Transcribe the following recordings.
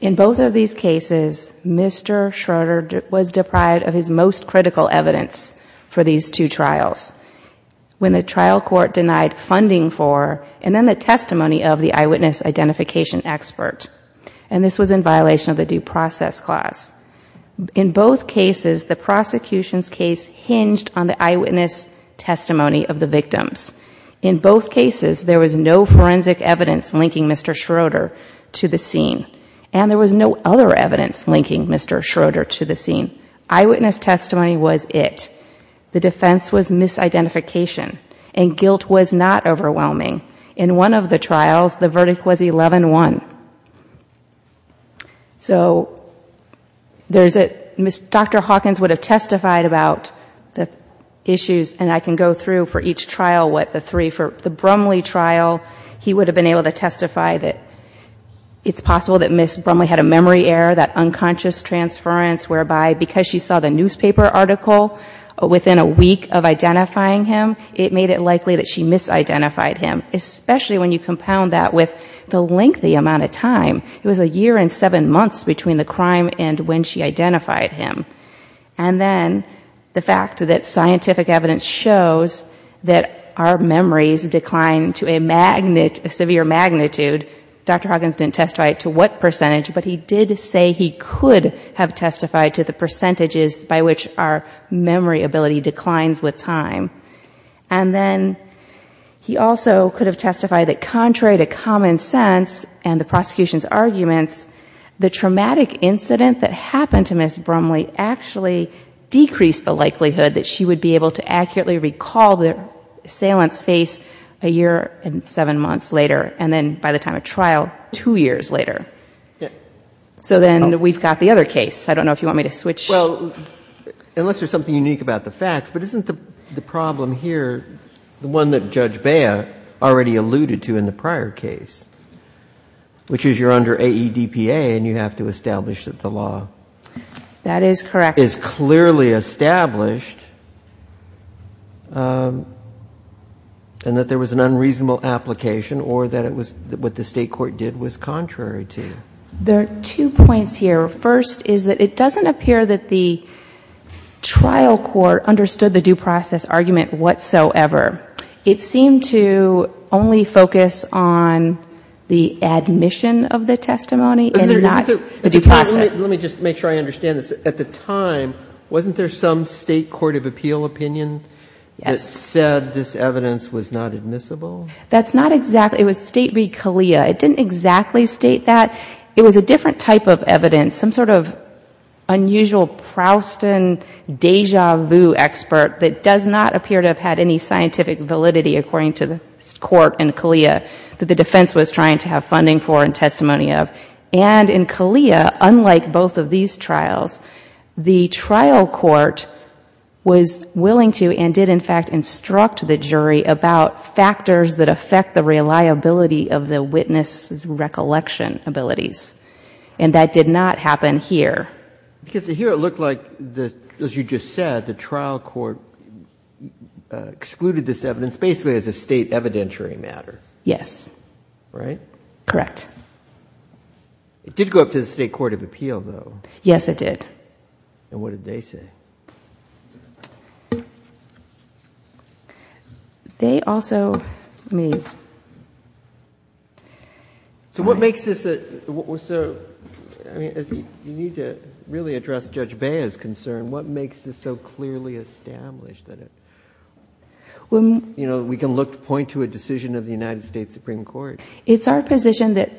In both of these cases Mr. Schroeder was deprived of his most critical evidence for these two trials. When the trial court denied funding for and then the testimony of the eyewitness identification expert and this was in violation of the due process clause. In both cases the prosecution's case hinged on the eyewitness testimony of the victims. In both cases there was no forensic evidence linking Mr. Schroeder to the scene and there was no other evidence linking Mr. Schroeder to the scene. Eyewitness testimony was it. The defense was misidentification and guilt was not overwhelming. In one of the trials the verdict was 11-1. So there's a, Dr. Hawkins would have testified about the issues and I can go through for each trial what the three for the Brumley trial he would have been able to testify that it's possible that Ms. Brumley had a memory error that unconscious transference whereby because she saw the newspaper article within a week of identifying him it made it likely that she misidentified him. Especially when you compound that with the lengthy amount of time. It was a year and seven months between the crime and when she identified him. And then the fact that scientific evidence shows that our memories decline to a severe magnitude. Dr. Hawkins didn't testify to what percentage but he did say he could have testified to the percentages by which our memory ability declines with time. And then he also could have testified that contrary to common sense and the prosecution's arguments the traumatic incident that happened to Ms. Brumley actually decreased the assailant's face a year and seven months later and then by the time of trial two years later. So then we've got the other case. I don't know if you want me to switch. Well, unless there's something unique about the facts. But isn't the problem here the one that Judge Bea already alluded to in the prior case? Which is you're under AEDPA and you have to establish that the law. That is correct. Is clearly established. And that there was an unreasonable application or that it was what the state court did was contrary to. There are two points here. First is that it doesn't appear that the trial court understood the due process argument whatsoever. It seemed to only focus on the process. Let me just make sure I understand this. At the time, wasn't there some state court of appeal opinion that said this evidence was not admissible? That's not exactly. It was State v. CALEA. It didn't exactly state that. It was a different type of evidence. Some sort of unusual Proustian deja vu expert that does not appear to have had any scientific validity according to the court and CALEA that the defense was trying to have funding for and testimony of. And in like both of these trials, the trial court was willing to and did in fact instruct the jury about factors that affect the reliability of the witness' recollection abilities. And that did not happen here. Because here it looked like, as you just said, the trial court excluded this evidence basically as a state evidentiary matter. Yes. Right? Correct. It did go up to the state court of appeal, though. Yes, it did. And what did they say? They also made... So what makes this... I mean, you need to really address Judge Bea's concern. What makes this so clearly established that we can look to point to a decision of the United States Supreme Court? It's our position that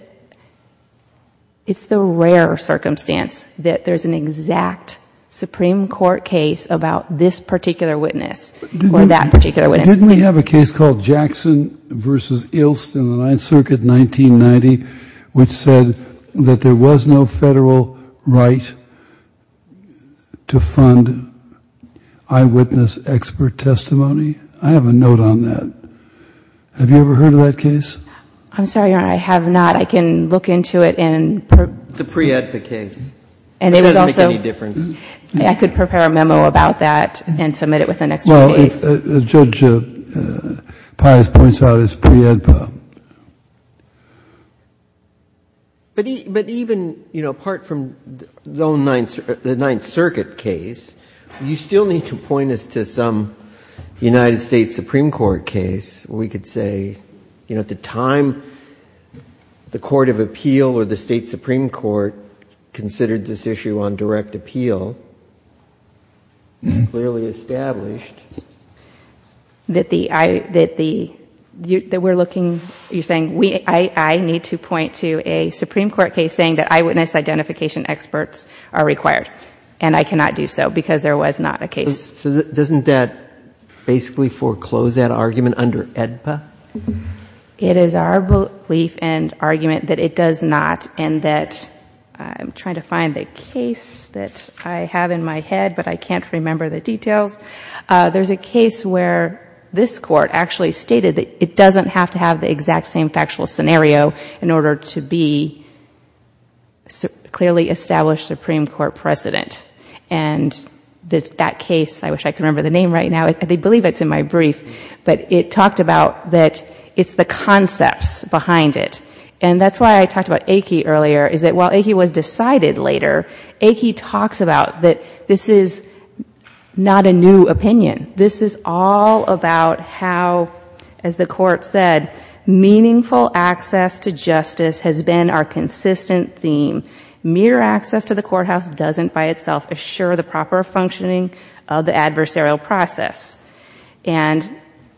it's the rare circumstance that there's an exact Supreme Court case about this particular witness or that particular witness. Didn't we have a case called Jackson v. Ilst in the Ninth Circuit, 1990, which said that there was no Federal right to fund eyewitness expert testimony? I have a note on that. Have you ever heard of that case? I'm sorry, Your Honor, I have not. I can look into it and... It's a pre-AEDPA case. And it was also... It doesn't make any difference. I could prepare a memo about that and submit it with the next case. Well, Judge Pius points out it's pre-AEDPA. But even, you know, apart from the Ninth Circuit case, you still need to point this to some United States Supreme Court case. We could say, you know, at the time the Court of Appeal or the State Supreme Court considered this issue on direct appeal, clearly established... That we're looking... You're saying I need to point to a Supreme Court case saying that eyewitness identification experts are required, and I cannot... So doesn't that basically foreclose that argument under AEDPA? It is our belief and argument that it does not, and that I'm trying to find a case that I have in my head, but I can't remember the details. There's a case where this Court actually stated that it doesn't have to have the exact same factual scenario in order to be clearly established Supreme Court precedent, and that case, I wish I could remember the name right now. They believe it's in my brief, but it talked about that it's the concepts behind it. And that's why I talked about Aki earlier, is that while Aki was decided later, Aki talks about that this is not a new opinion. This is all about how, as the Court said, meaningful access to justice has been our consistent theme. Mere access to the courthouse doesn't by itself assure the proper functioning of the adversarial process. And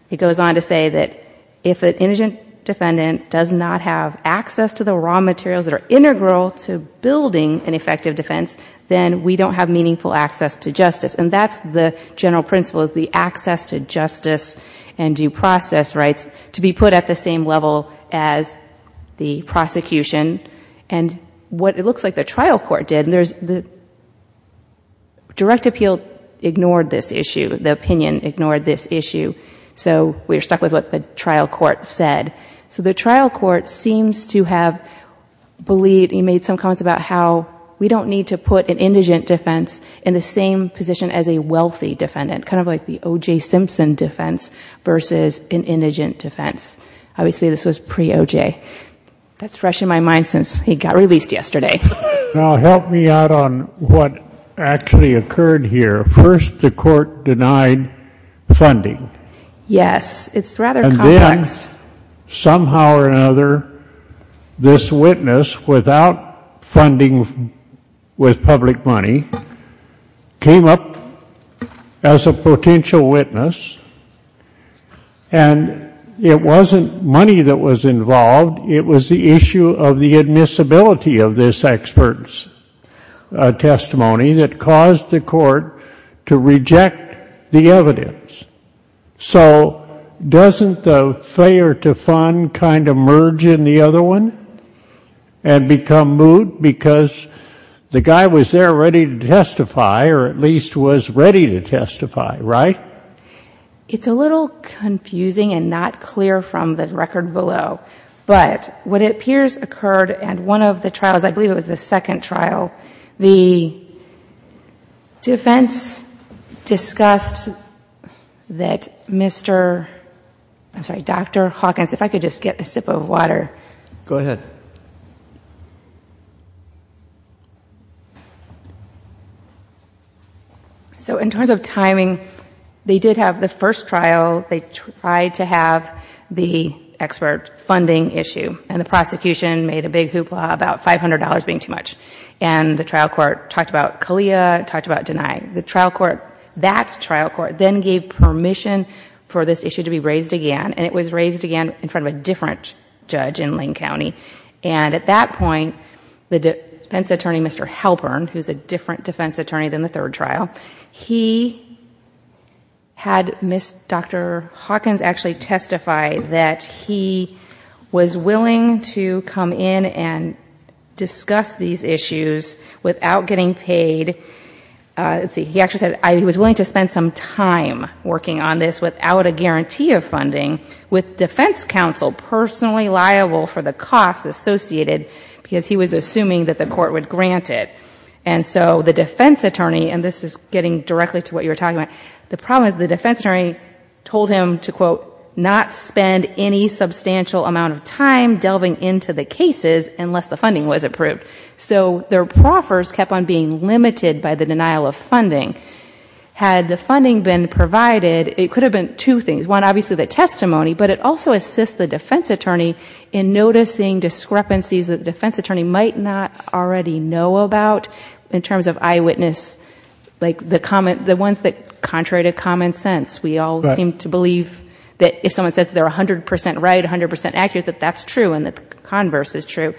it goes on to say that if an indigent defendant does not have access to the raw materials that are integral to building an effective defense, then we don't have meaningful access to justice. And that's the general principle, is the access to justice and due process rights to be put at the same level as the prosecution. And what it looks like the trial court did, and the direct appeal ignored this issue, the opinion ignored this issue, so we're stuck with what the trial court said. So the trial court seems to have believed... he made some comments about how we don't need to put an indigent defense in the same position as a wealthy defendant, kind of like the OJ Simpson defense versus an indigent defense. Obviously, this was pre-OJ. That's fresh in my mind since he got released yesterday. Now, help me out on what actually occurred here. First, the Court denied funding. Yes. It's rather complex. And then, somehow or another, this witness, without funding with public money, came up as a potential witness. And it wasn't money that was involved. It was the issue of the admissibility of this expert's testimony that caused the Court to reject the evidence. So doesn't the failure to fund kind of justify or at least was ready to testify, right? It's a little confusing and not clear from the record below. But what appears occurred in one of the trials, I believe it was the second trial, the defense discussed that Mr.... I'm sorry, Dr. Hawkins, if I could just get a sip of water. Go ahead. Thank you. So in terms of timing, they did have the first trial, they tried to have the expert funding issue. And the prosecution made a big hoopla about $500 being too much. And the trial court talked about CALEA, talked about denying. The trial court, that trial court, then gave permission for this issue to be And at that point, the defense attorney, Mr. Halpern, who's a different defense attorney than the third trial, he had Ms.... Dr. Hawkins actually testified that he was willing to come in and discuss these issues without getting paid... he actually said he was willing to spend some time working on this without a guarantee of funding with defense counsel personally liable for the costs associated because he was assuming that the court would grant it. And so the defense attorney, and this is getting directly to what you were talking about, the problem is the defense attorney told him to, quote, not spend any substantial amount of time delving into the cases unless the funding was approved. So their proffers kept on being limited by the denial of funding. Had the funding been provided, it could have been two things. One, obviously the testimony, but it also assists the defense attorney in noticing discrepancies that the defense attorney might not already know about in terms of eyewitness... the ones that, contrary to common sense, we all seem to believe that if someone says they're 100 percent right, 100 percent accurate, that that's true and the converse is true.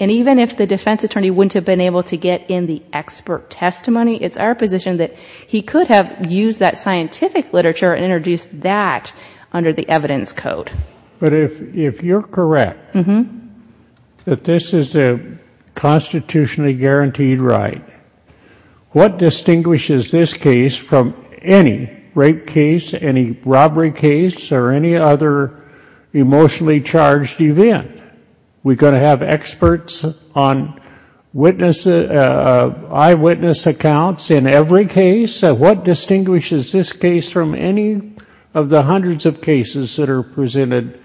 And even if the defense attorney wouldn't have been able to get in the expert literature and introduce that under the evidence code. But if you're correct that this is a constitutionally guaranteed right, what distinguishes this case from any rape case, any robbery case, or any other emotionally charged event? We're going to have experts on eyewitness accounts in every case. What distinguishes this case from any of the hundreds of cases that are presented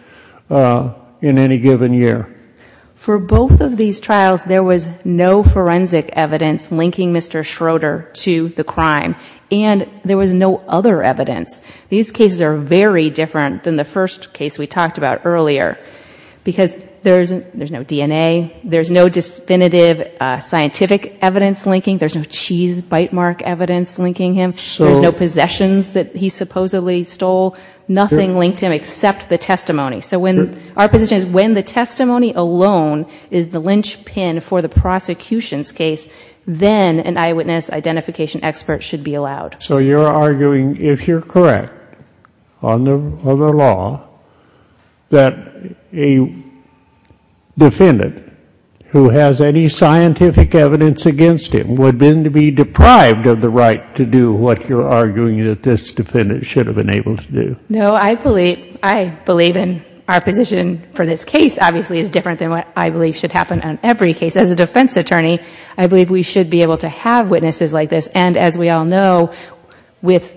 in any given year? For both of these trials, there was no forensic evidence linking Mr. Schroeder to the crime and there was no other evidence. These cases are very different than the first case we talked about earlier because there's no DNA, there's no definitive scientific evidence linking him, there's no cheese bite mark evidence linking him, there's no possessions that he supposedly stole. Nothing linked him except the testimony. So our position is when the testimony alone is the linchpin for the prosecution's case, then an eyewitness identification expert should be allowed. So you're arguing, if you're correct, on the law, that a defendant who has any scientific evidence against him would then be deprived of the right to do what you're arguing that this defendant should have been able to do? No, I believe in our position for this case obviously is different than what I believe should happen on every case. As a defense attorney, I believe we should be able to have witnesses like this. And as we all know, with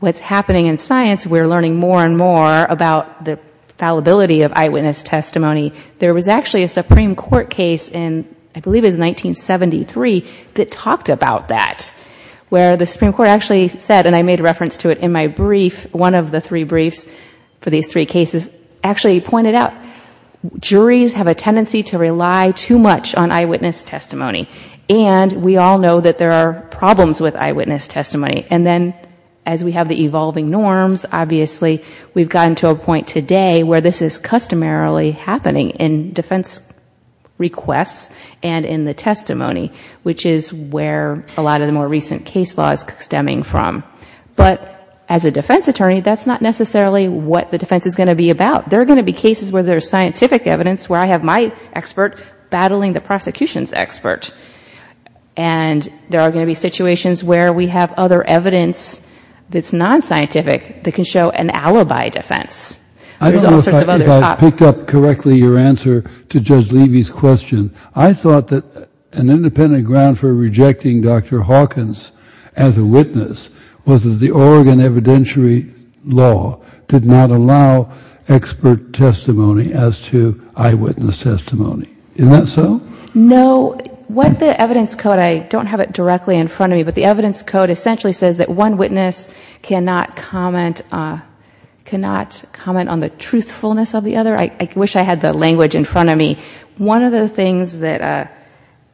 what's happening in science, we're learning more and more about the fallibility of eyewitness testimony. There was actually a Supreme Court case in, I believe it was 1973, that talked about that, where the Supreme Court actually said, and I made a reference to it in my brief, one of the three briefs for these three cases, actually pointed out, juries have a tendency to rely too much on eyewitness testimony. And we all know that there are problems with eyewitness testimony. And then, as we have the evolving norms, obviously we've gotten to a point today where this is customarily happening in defense requests and in the testimony, which is where a lot of the more recent case laws stemming from. But as a defense attorney, that's not necessarily what the defense is going to be about. There are going to be cases where there's scientific evidence, where I have my expert battling the prosecution's expert. And there are going to be situations where we have other evidence that's non-scientific that can show an alibi defense. There's all sorts of other topics. I don't know if I picked up correctly your answer to Judge Levy's question. I thought that an independent ground for rejecting Dr. Hawkins as a witness was that the Oregon evidentiary law did not allow expert testimony as to eyewitness testimony. Isn't that so? No. What the evidence code, I don't have it directly in front of me, but the evidence code essentially says that one witness cannot comment on the truthfulness of the other. I wish I had the language in front of me. One of the things that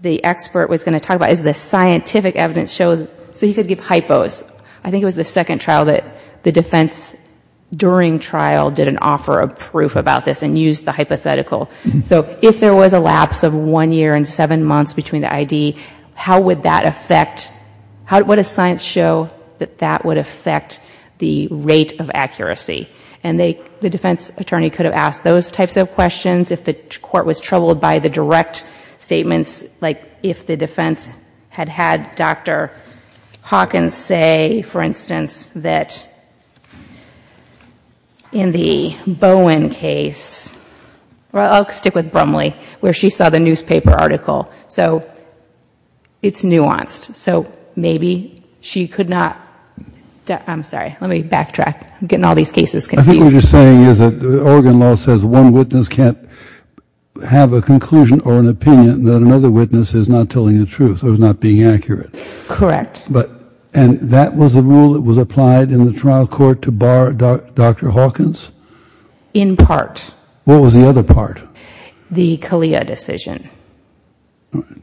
the expert was going to talk about is the scientific evidence, so he could give hypos. I think it was the second trial that the defense during trial did an offer of proof about this and used the hypothetical. So if there was a lapse of one year and seven months between the ID, how would that affect, what does science show that that would affect the rate of accuracy? And the defense attorney could have asked those types of questions if the court was troubled by the direct statements, like if the defense had had Dr. Hawkins say, for instance, that in the Bowen case, I'll stick with Brumley, where she saw the newspaper article. So it's nuanced. So maybe she could not, I'm sorry, let me backtrack. I'm getting all these cases confused. I think what you're saying is that Oregon law says one witness can't have a conclusion or an opinion that another witness is not telling the truth or is not being accurate. Correct. But, and that was a rule that was applied in the trial court to bar Dr. Hawkins? In part. What was the other part? The CALEA decision.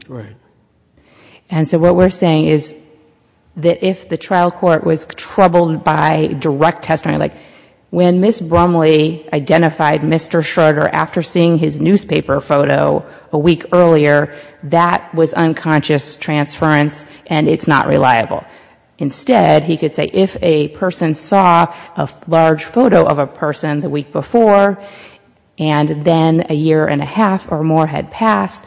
Right. And so what we're saying is that if the trial court was troubled by direct testimony, like when Ms. Brumley identified Mr. Schroeder after seeing his newspaper photo a week earlier, that was unconscious transference and it's not reliable. Instead, he could say if a person saw a large photo of a person the next day, and then a year and a half or more had passed,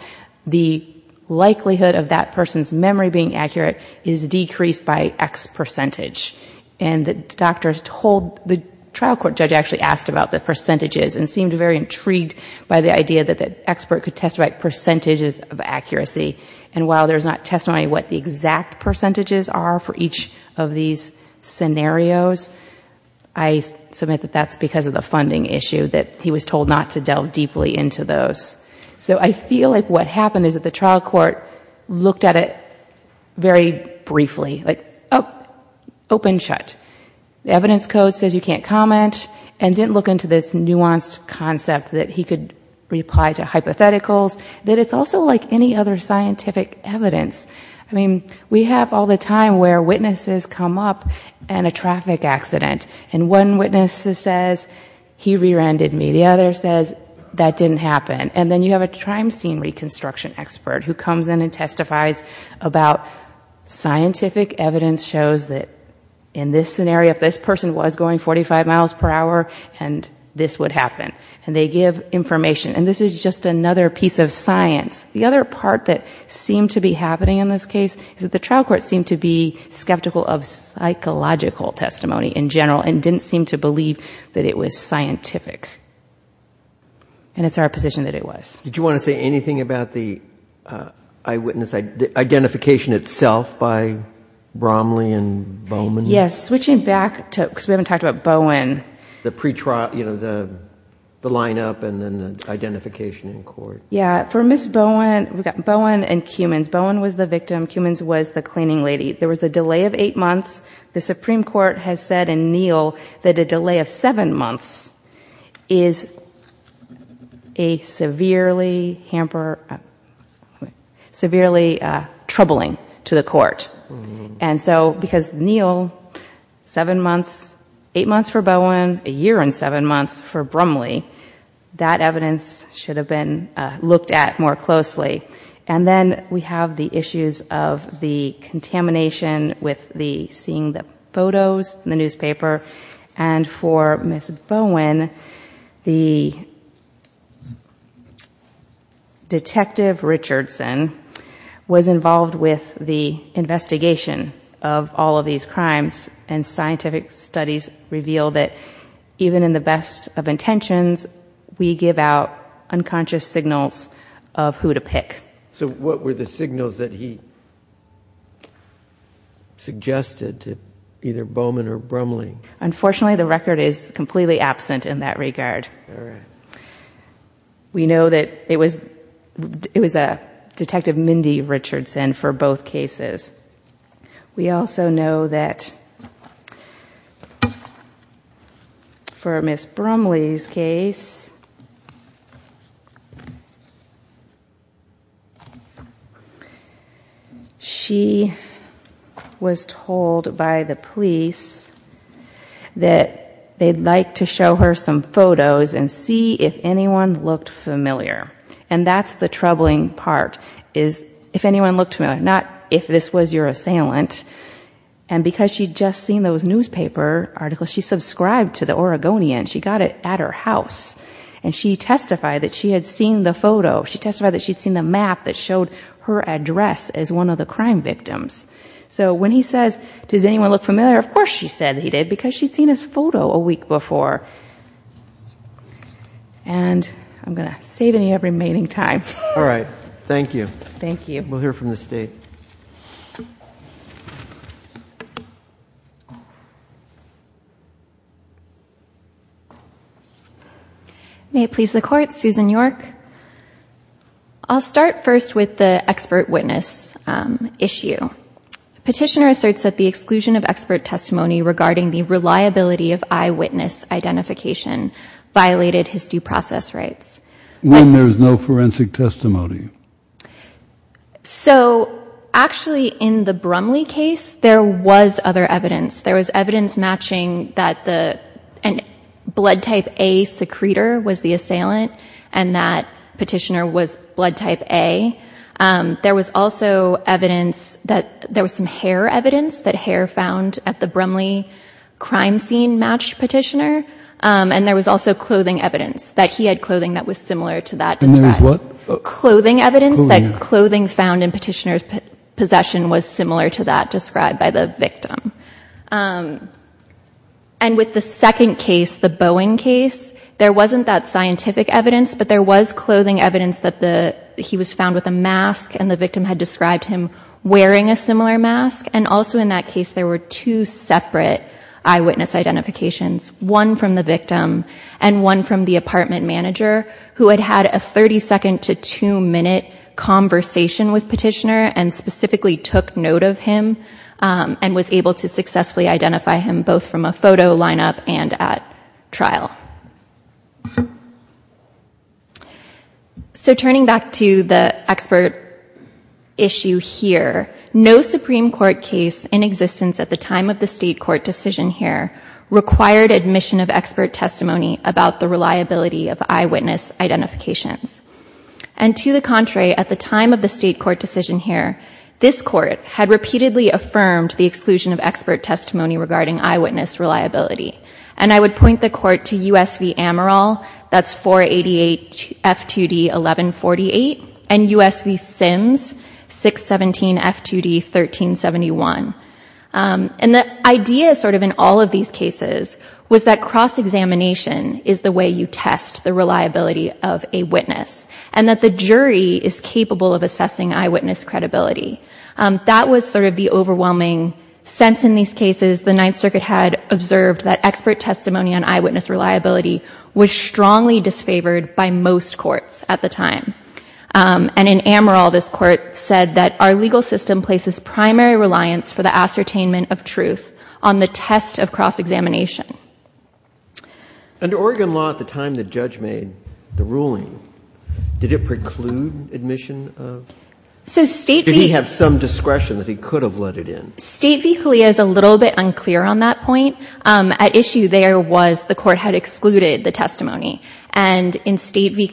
the likelihood of that person's memory being accurate is decreased by X percentage. And the doctor told, the trial court judge actually asked about the percentages and seemed very intrigued by the idea that the expert could testify at percentages of accuracy. And while there's not testimony of what the exact percentages are for each of these scenarios, I submit that that's because of the funding issue that he was told not to delve deeply into those. So I feel like what happened is that the trial court looked at it very briefly, like open, shut. The evidence code says you can't comment and didn't look into this nuanced concept that he could reply to hypotheticals, that it's also like any other scientific evidence. I mean, we have all the time where witnesses come up in a traffic accident and one witness says, he re-rendered me. The other says that didn't happen. And then you have a crime scene reconstruction expert who comes in and testifies about scientific evidence shows that in this scenario, if this person was going 45 miles per hour and this would happen and they give information. And this is just another piece of science. The other part that seemed to be happening in this case is that the trial court seemed to be skeptical of psychological testimony in general and didn't seem to believe that it was scientific. And it's our position that it was. Did you want to say anything about the eyewitness identification itself by Bromley and Bowman? Yes. Switching back to, cause we haven't talked about Bowen. The pretrial, you know, the, the lineup and then the identification in court. Yeah. For Ms. Bowen, we've got Bowen and Cummins. Bowen was the victim. Cummins was the cleaning lady. There was a delay of eight months. The Supreme Court has said in Neal that a delay of seven months is a severely hamper, severely troubling to the court. And so because Neal, seven months, eight months for Bowen, a year and seven months for Bromley, that evidence should have been looked at more closely. And then we have the issues of the contamination with the seeing the photos in the newspaper. And for Ms. Bowen, the detective Richardson was involved with the investigation of all of these crimes and scientific studies revealed that even in the best of intentions, we give out unconscious signals of who to pick. So what were the signals that he suggested to either Bowman or Bromley? Unfortunately, the record is completely absent in that regard. We know that it was, it was a detective Mindy Richardson for both cases. We also know that for Ms. Bromley's case, she was told by the police that they'd like to show her some photos and see if anyone looked familiar. And that's the troubling part is if anyone looked, not if this was your assailant and because she'd just seen those newspaper articles, she subscribed to the Oregonian. She got it at her house and she testified that she had seen the photo. She testified that she'd seen the map that showed her address as one of the crime victims. So when he says, does anyone look familiar? Of course she said that he did because she'd seen his photo a week before. And I'm going to save any remaining time. All right. Thank you. Thank you. We'll hear from the state. May it please the court. Susan York. I'll start first with the expert witness issue. Petitioner asserts that the exclusion of expert testimony regarding the reliability of eyewitness identification violated his due process rights. When there's no forensic testimony. So actually in the Brumley case, there was other evidence. There was evidence matching that the, and blood type a secretor was the assailant and that petitioner was blood type a. Um, there was also evidence that there was some hair evidence that hair found at the Brumley crime scene matched petitioner. Um, and there was also clothing evidence that he had clothing that was similar to that clothing evidence that clothing found in petitioner's possession was similar to that described by the victim. Um, and with the second case, the Boeing case, there wasn't that scientific evidence, but there was clothing evidence that the, he was found with a mask and the victim had described him wearing a similar mask. And also in that case, there were two separate eyewitness identifications, one from the victim and one from the apartment manager who had had a 32nd to two minute conversation with petitioner and specifically took note of him. Um, and was able to successfully identify him both from a photo lineup and at trial. So turning back to the expert issue here, no Supreme court case in existence at the time of the state court decision here required admission of expert testimony about the reliability of eyewitness identifications. And to the contrary, at the time of the state court decision here, this court had repeatedly affirmed the exclusion of expert testimony regarding eyewitness reliability. And I would point the court to USV Amaral. That's 488 F2D 1148 and USV Sims 617 F2D, 1371. Um, and the idea is sort of in all of these cases was that cross-examination is the way you test the reliability of a witness and that the jury is capable of assessing eyewitness credibility. Um, that was sort of the overwhelming sense in these cases. The ninth circuit had observed that expert testimony on eyewitness reliability was strongly disfavored by most courts at the time. Um, and in Amaral, this court said that our legal system places primary reliance for the ascertainment of truth on the test of cross-examination. Under Oregon law at the time, the judge made the ruling, did it preclude admission of state? Did he have some discretion that he could have let it in? State v. Calia is a little bit unclear on that point. Um, at issue there was the court had excluded the testimony and in state v.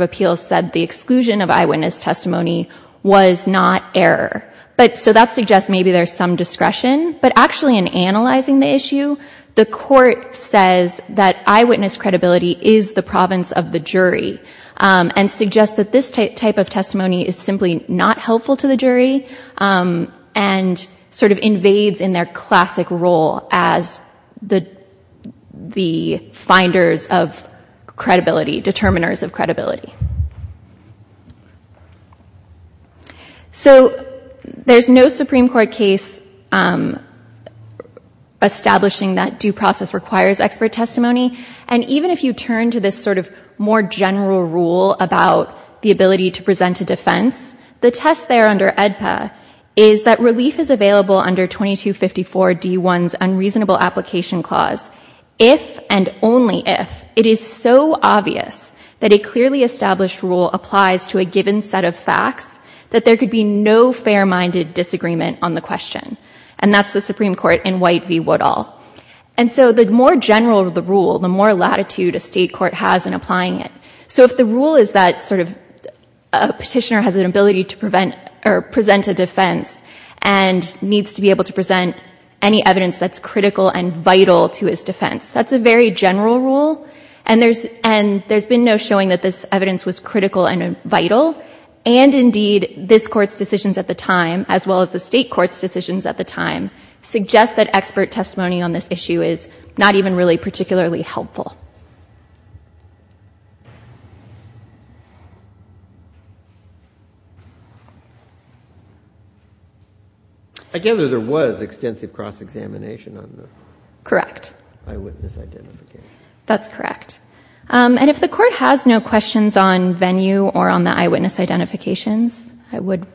Appeals said the exclusion of eyewitness testimony was not error. But so that suggests maybe there's some discretion, but actually in analyzing the issue, the court says that eyewitness credibility is the province of the jury. Um, and suggest that this type of testimony is simply not helpful to the jury. Um, and sort of invades in their classic role as the, the finders of credibility, determiners of credibility. So there's no Supreme court case, um, establishing that due process requires expert testimony. And even if you turn to this sort of more general rule about the ability to present a defense, the test there under EDPA is that relief is available under 2254 D 1's unreasonable application clause. If and only if it is so obvious that a clearly established rule applies to a given set of facts that there could be no fair minded disagreement on the question. And that's the Supreme court in white v. Woodall. And so the more general the rule, the more latitude a state court has in applying it. So if the rule is that sort of a petitioner has an ability to prevent or present a defense and needs to be able to present any evidence that's critical and vital to his defense, that's a very general rule and there's, and there's been no showing that this evidence was critical and vital. And indeed this court's decisions at the time, as well as the state court's decisions at the time, suggest that expert testimony on this issue is not even really particularly helpful. I gather there was extensive cross-examination on the correct eyewitness identification. That's correct. And if the court has no questions on venue or on the eyewitness identifications, I would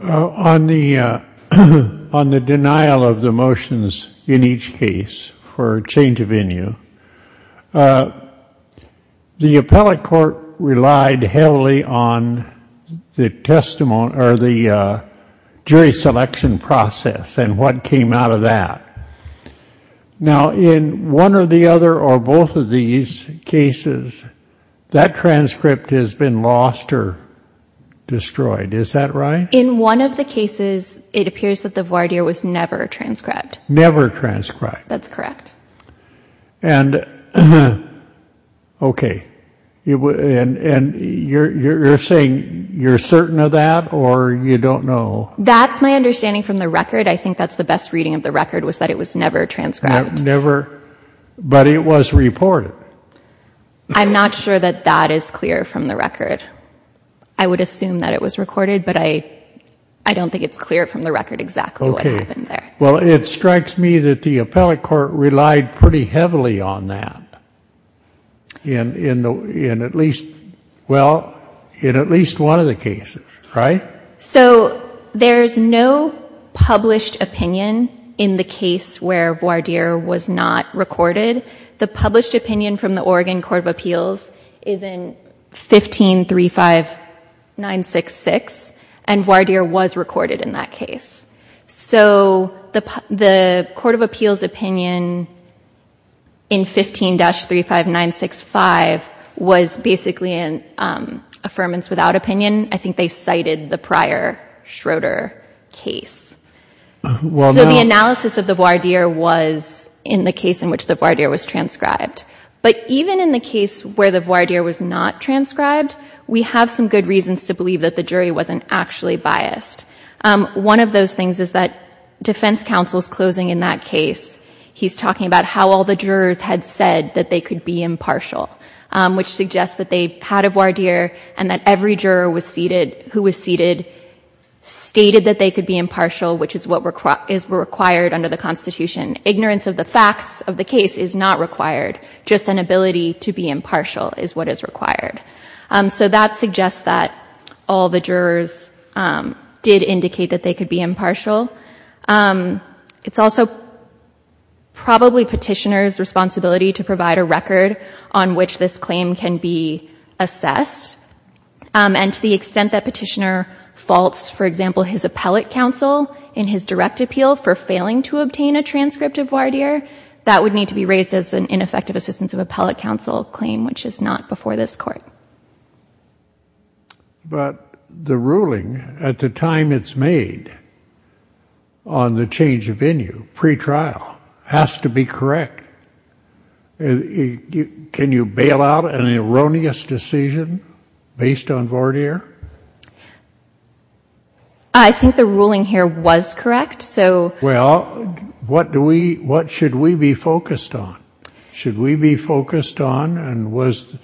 on the on the denial of the motions in each case for a change of venue, the appellate court relied heavily on the testimony or the, jury selection process. And what came out of that now in one or the other or both of these cases, that transcript has been lost or destroyed. Is that right? In one of the cases, it appears that the voir dire was never transcribed, never transcribed. That's correct. And, okay. You w and you're, you're saying you're certain of that or you don't know. That's my understanding from the record. I think that's the best reading of the record was that it was never transcribed, never, but it was reported. I'm not sure that that is clear from the record. I would assume that it was recorded, but I, I don't think it's clear from the record exactly what happened there. Well, it strikes me that the appellate court relied pretty heavily on that in, in the, in at least, well, in at least one of the cases, right? So there's no published opinion in the case where voir dire was not recorded. The published opinion from the Oregon court of appeals is in 15, three, five, nine, six, six. And voir dire was recorded in that case. So the, the court of appeals opinion in 15 dash three, five, nine, six, five, was basically an affirmance without opinion. I think they cited the prior Schroeder case. So the analysis of the voir dire was in the case in which the voir dire was transcribed. But even in the case where the voir dire was not transcribed, we have some good reasons to believe that the jury wasn't actually biased. One of those things is that defense counsel's closing in that case, he's talking about how all the jurors had said that they could be impartial, which suggests that they had a voir dire and that every juror was seated who was seated, stated that they could be impartial, which is what is required under the constitution. Ignorance of the facts of the case is not required. Just an ability to be impartial is what is required. So that suggests that all the jurors did indicate that they could be impartial. It's also probably petitioners responsibility to provide a record on which this claim can be assessed. And to the extent that petitioner faults, for example, his appellate counsel in his direct appeal for failing to obtain a transcript of voir dire, that would need to be raised as an ineffective assistance of appellate counsel claim, which is not before this court. But the ruling at the time it's made on the change of venue pre-trial has to be correct. Can you bail out an erroneous decision based on voir dire? I think the ruling here was correct. So what do we, what should we be focused on? Should we be focused on and was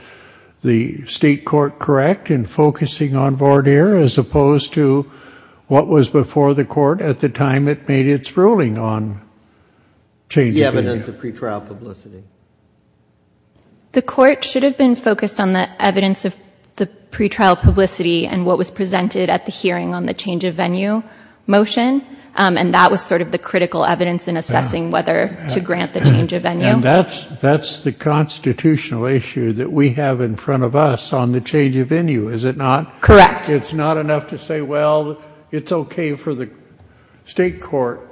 the state court correct in focusing on voir dire as opposed to what was before the court at the time it made its ruling on change the evidence of pre-trial publicity? The court should have been focused on the evidence of the pre-trial publicity and what was presented at the hearing on the change of venue motion. And that was sort of the critical evidence in assessing whether to grant the change of venue. That's the constitutional issue that we have in front of us on the change of venue, is it not? Correct. It's not enough to say, well, it's okay for the state court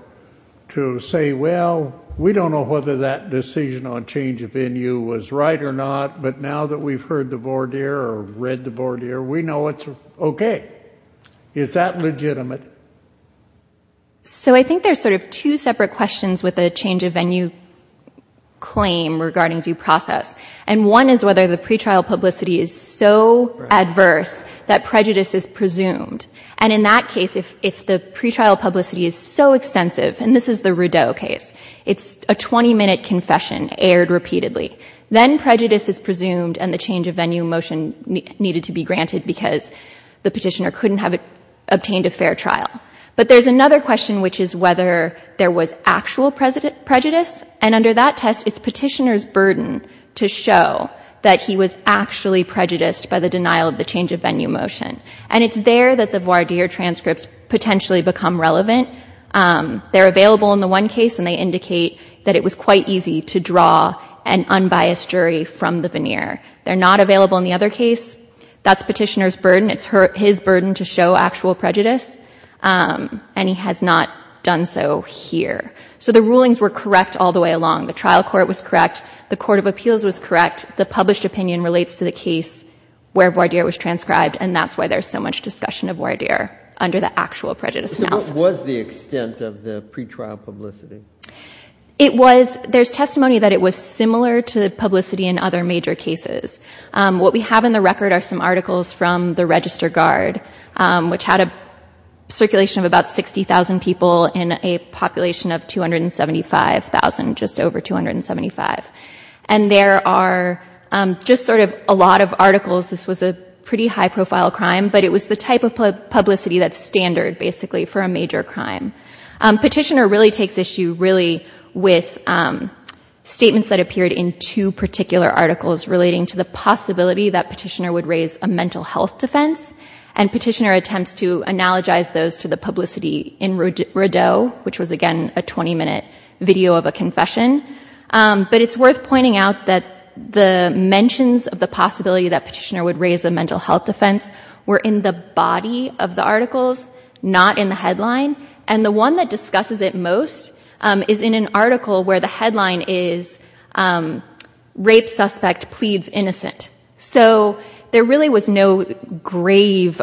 to say, well, we don't know whether that decision on change of venue was right or not. But now that we've heard the voir dire or read the voir dire, we know it's okay. Is that legitimate? So I think there's sort of two separate questions with a change of venue claim regarding due process. And one is whether the pre-trial publicity is so adverse that prejudice is presumed. And in that case, if, if the pre-trial publicity is so extensive, and this is the Rudeau case, it's a 20 minute confession aired repeatedly. Then prejudice is presumed and the change of venue motion needed to be granted because the petitioner couldn't have obtained a fair trial. But there's another question, which is whether there was actual prejudice. And under that test, it's petitioner's burden to show that he was actually prejudiced by the denial of the change of venue motion. And it's there that the voir dire transcripts potentially become relevant. They're available in the one case and they indicate that it was quite easy to draw an unbiased jury from the veneer. They're not available in the other case. That's petitioner's burden. It's his burden to show actual prejudice. And he has not done so here. So the rulings were correct all the way along. The trial court was correct. The court of appeals was correct. The published opinion relates to the case where voir dire was transcribed. And that's why there's so much discussion of voir dire under the actual prejudice analysis. What was the extent of the pretrial publicity? It was, there's testimony that it was similar to publicity in other major cases. What we have in the record are some articles from the register guard, which had a circulation of about 60,000 people in a population of 275,000, which was a pretty high profile crime, but it was the type of publicity that's standard basically for a major crime. Petitioner really takes issue really with statements that appeared in two particular articles relating to the possibility that petitioner would raise a mental health defense and petitioner attempts to analogize those to the publicity in Rodeau, which was again, a 20 minute video of a confession. But it's worth pointing out that the mentions of the possibility that petitioner would raise a mental health defense were in the body of the articles, not in the headline. And the one that discusses it most is in an article where the headline is, rape suspect pleads innocent. So there really was no grave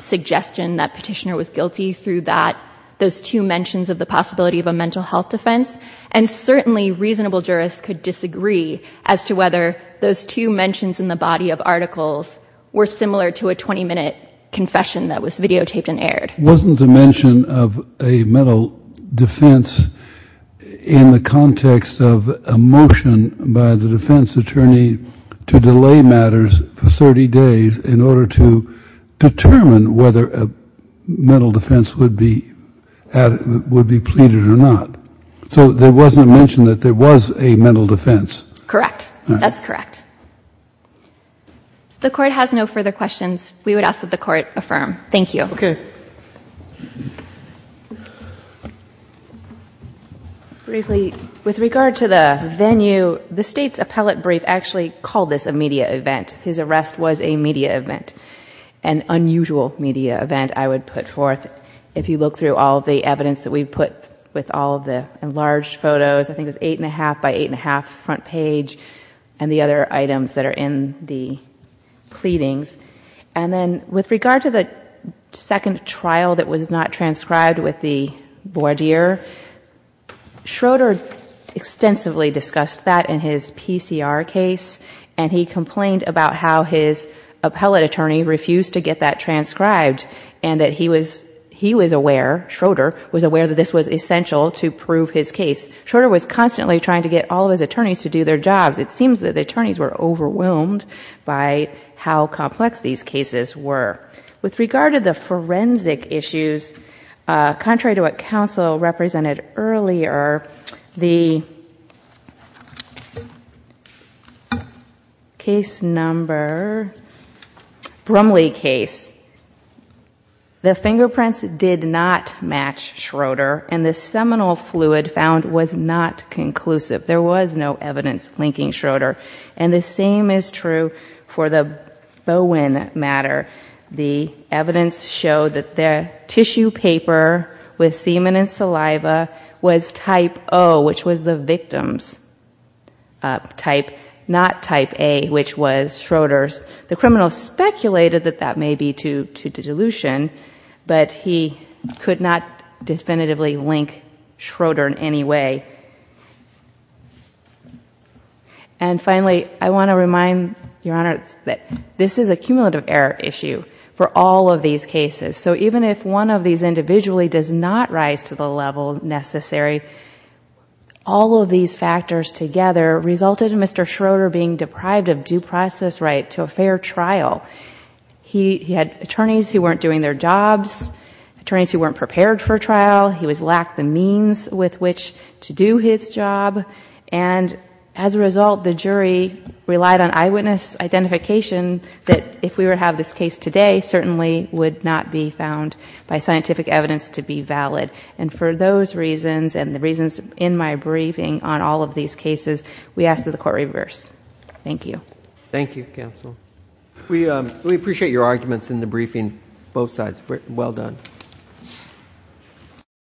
suggestion that petitioner was guilty through that, those two mentions of the possibility of a mental health defense. And certainly reasonable jurists could disagree as to whether those two mentions in the body of articles were similar to a 20 minute confession that was videotaped and aired. Wasn't the mention of a mental defense in the context of a motion by the defense attorney to delay matters for 30 days in order to determine whether a mental defense would be, would be pleaded or not. So there wasn't a mention that there was a mental defense. Correct. That's correct. So the court has no further questions. We would ask that the court affirm. Thank you. Okay. Briefly with regard to the venue, the state's appellate brief actually called this a media event. His arrest was a media event and unusual media event. I would put forth if you look through all of the evidence that we've put with all of the enlarged photos, I think it was eight and a half by eight and a half front page and the other items that are in the pleadings. And then with regard to the second trial that was not transcribed with the voir dire Schroeder extensively discussed that in his PCR case and he complained about how his appellate attorney refused to get that transcribed and that he was, he was aware, Schroeder was aware that this was essential to prove his case. Schroeder was constantly trying to get all of his attorneys to do their jobs. It seems that the attorneys were overwhelmed by how complex these cases were with regard to the forensic issues. Uh, contrary to what council represented earlier, the case number Brumley case, the fingerprints did not match Schroeder and the seminal fluid found was not conclusive. There was no evidence linking Schroeder. And the same is true for the Bowen matter. The evidence showed that their tissue paper with semen and saliva was type O, which was the victim's type, not type a, which was Schroeder's. The criminal speculated that that may be to, to dilution, but he could not definitively link Schroeder in any way. Okay. And finally, I want to remind your honor that this is a cumulative error issue for all of these cases. So even if one of these individually does not rise to the level necessary, all of these factors together resulted in Mr. Schroeder being deprived of due process right to a fair trial. He had attorneys who weren't doing their jobs, attorneys who weren't prepared for trial. He was lacked the means with which to do his job. And as a result, the jury relied on eyewitness identification that if we were to have this case today, certainly would not be found by scientific evidence to be valid. And for those reasons and the reasons in my briefing on all of these cases, we asked that the court reverse. Thank you. Thank you counsel. We, um, we appreciate your arguments in the briefing, both sides. Well done. Thank you.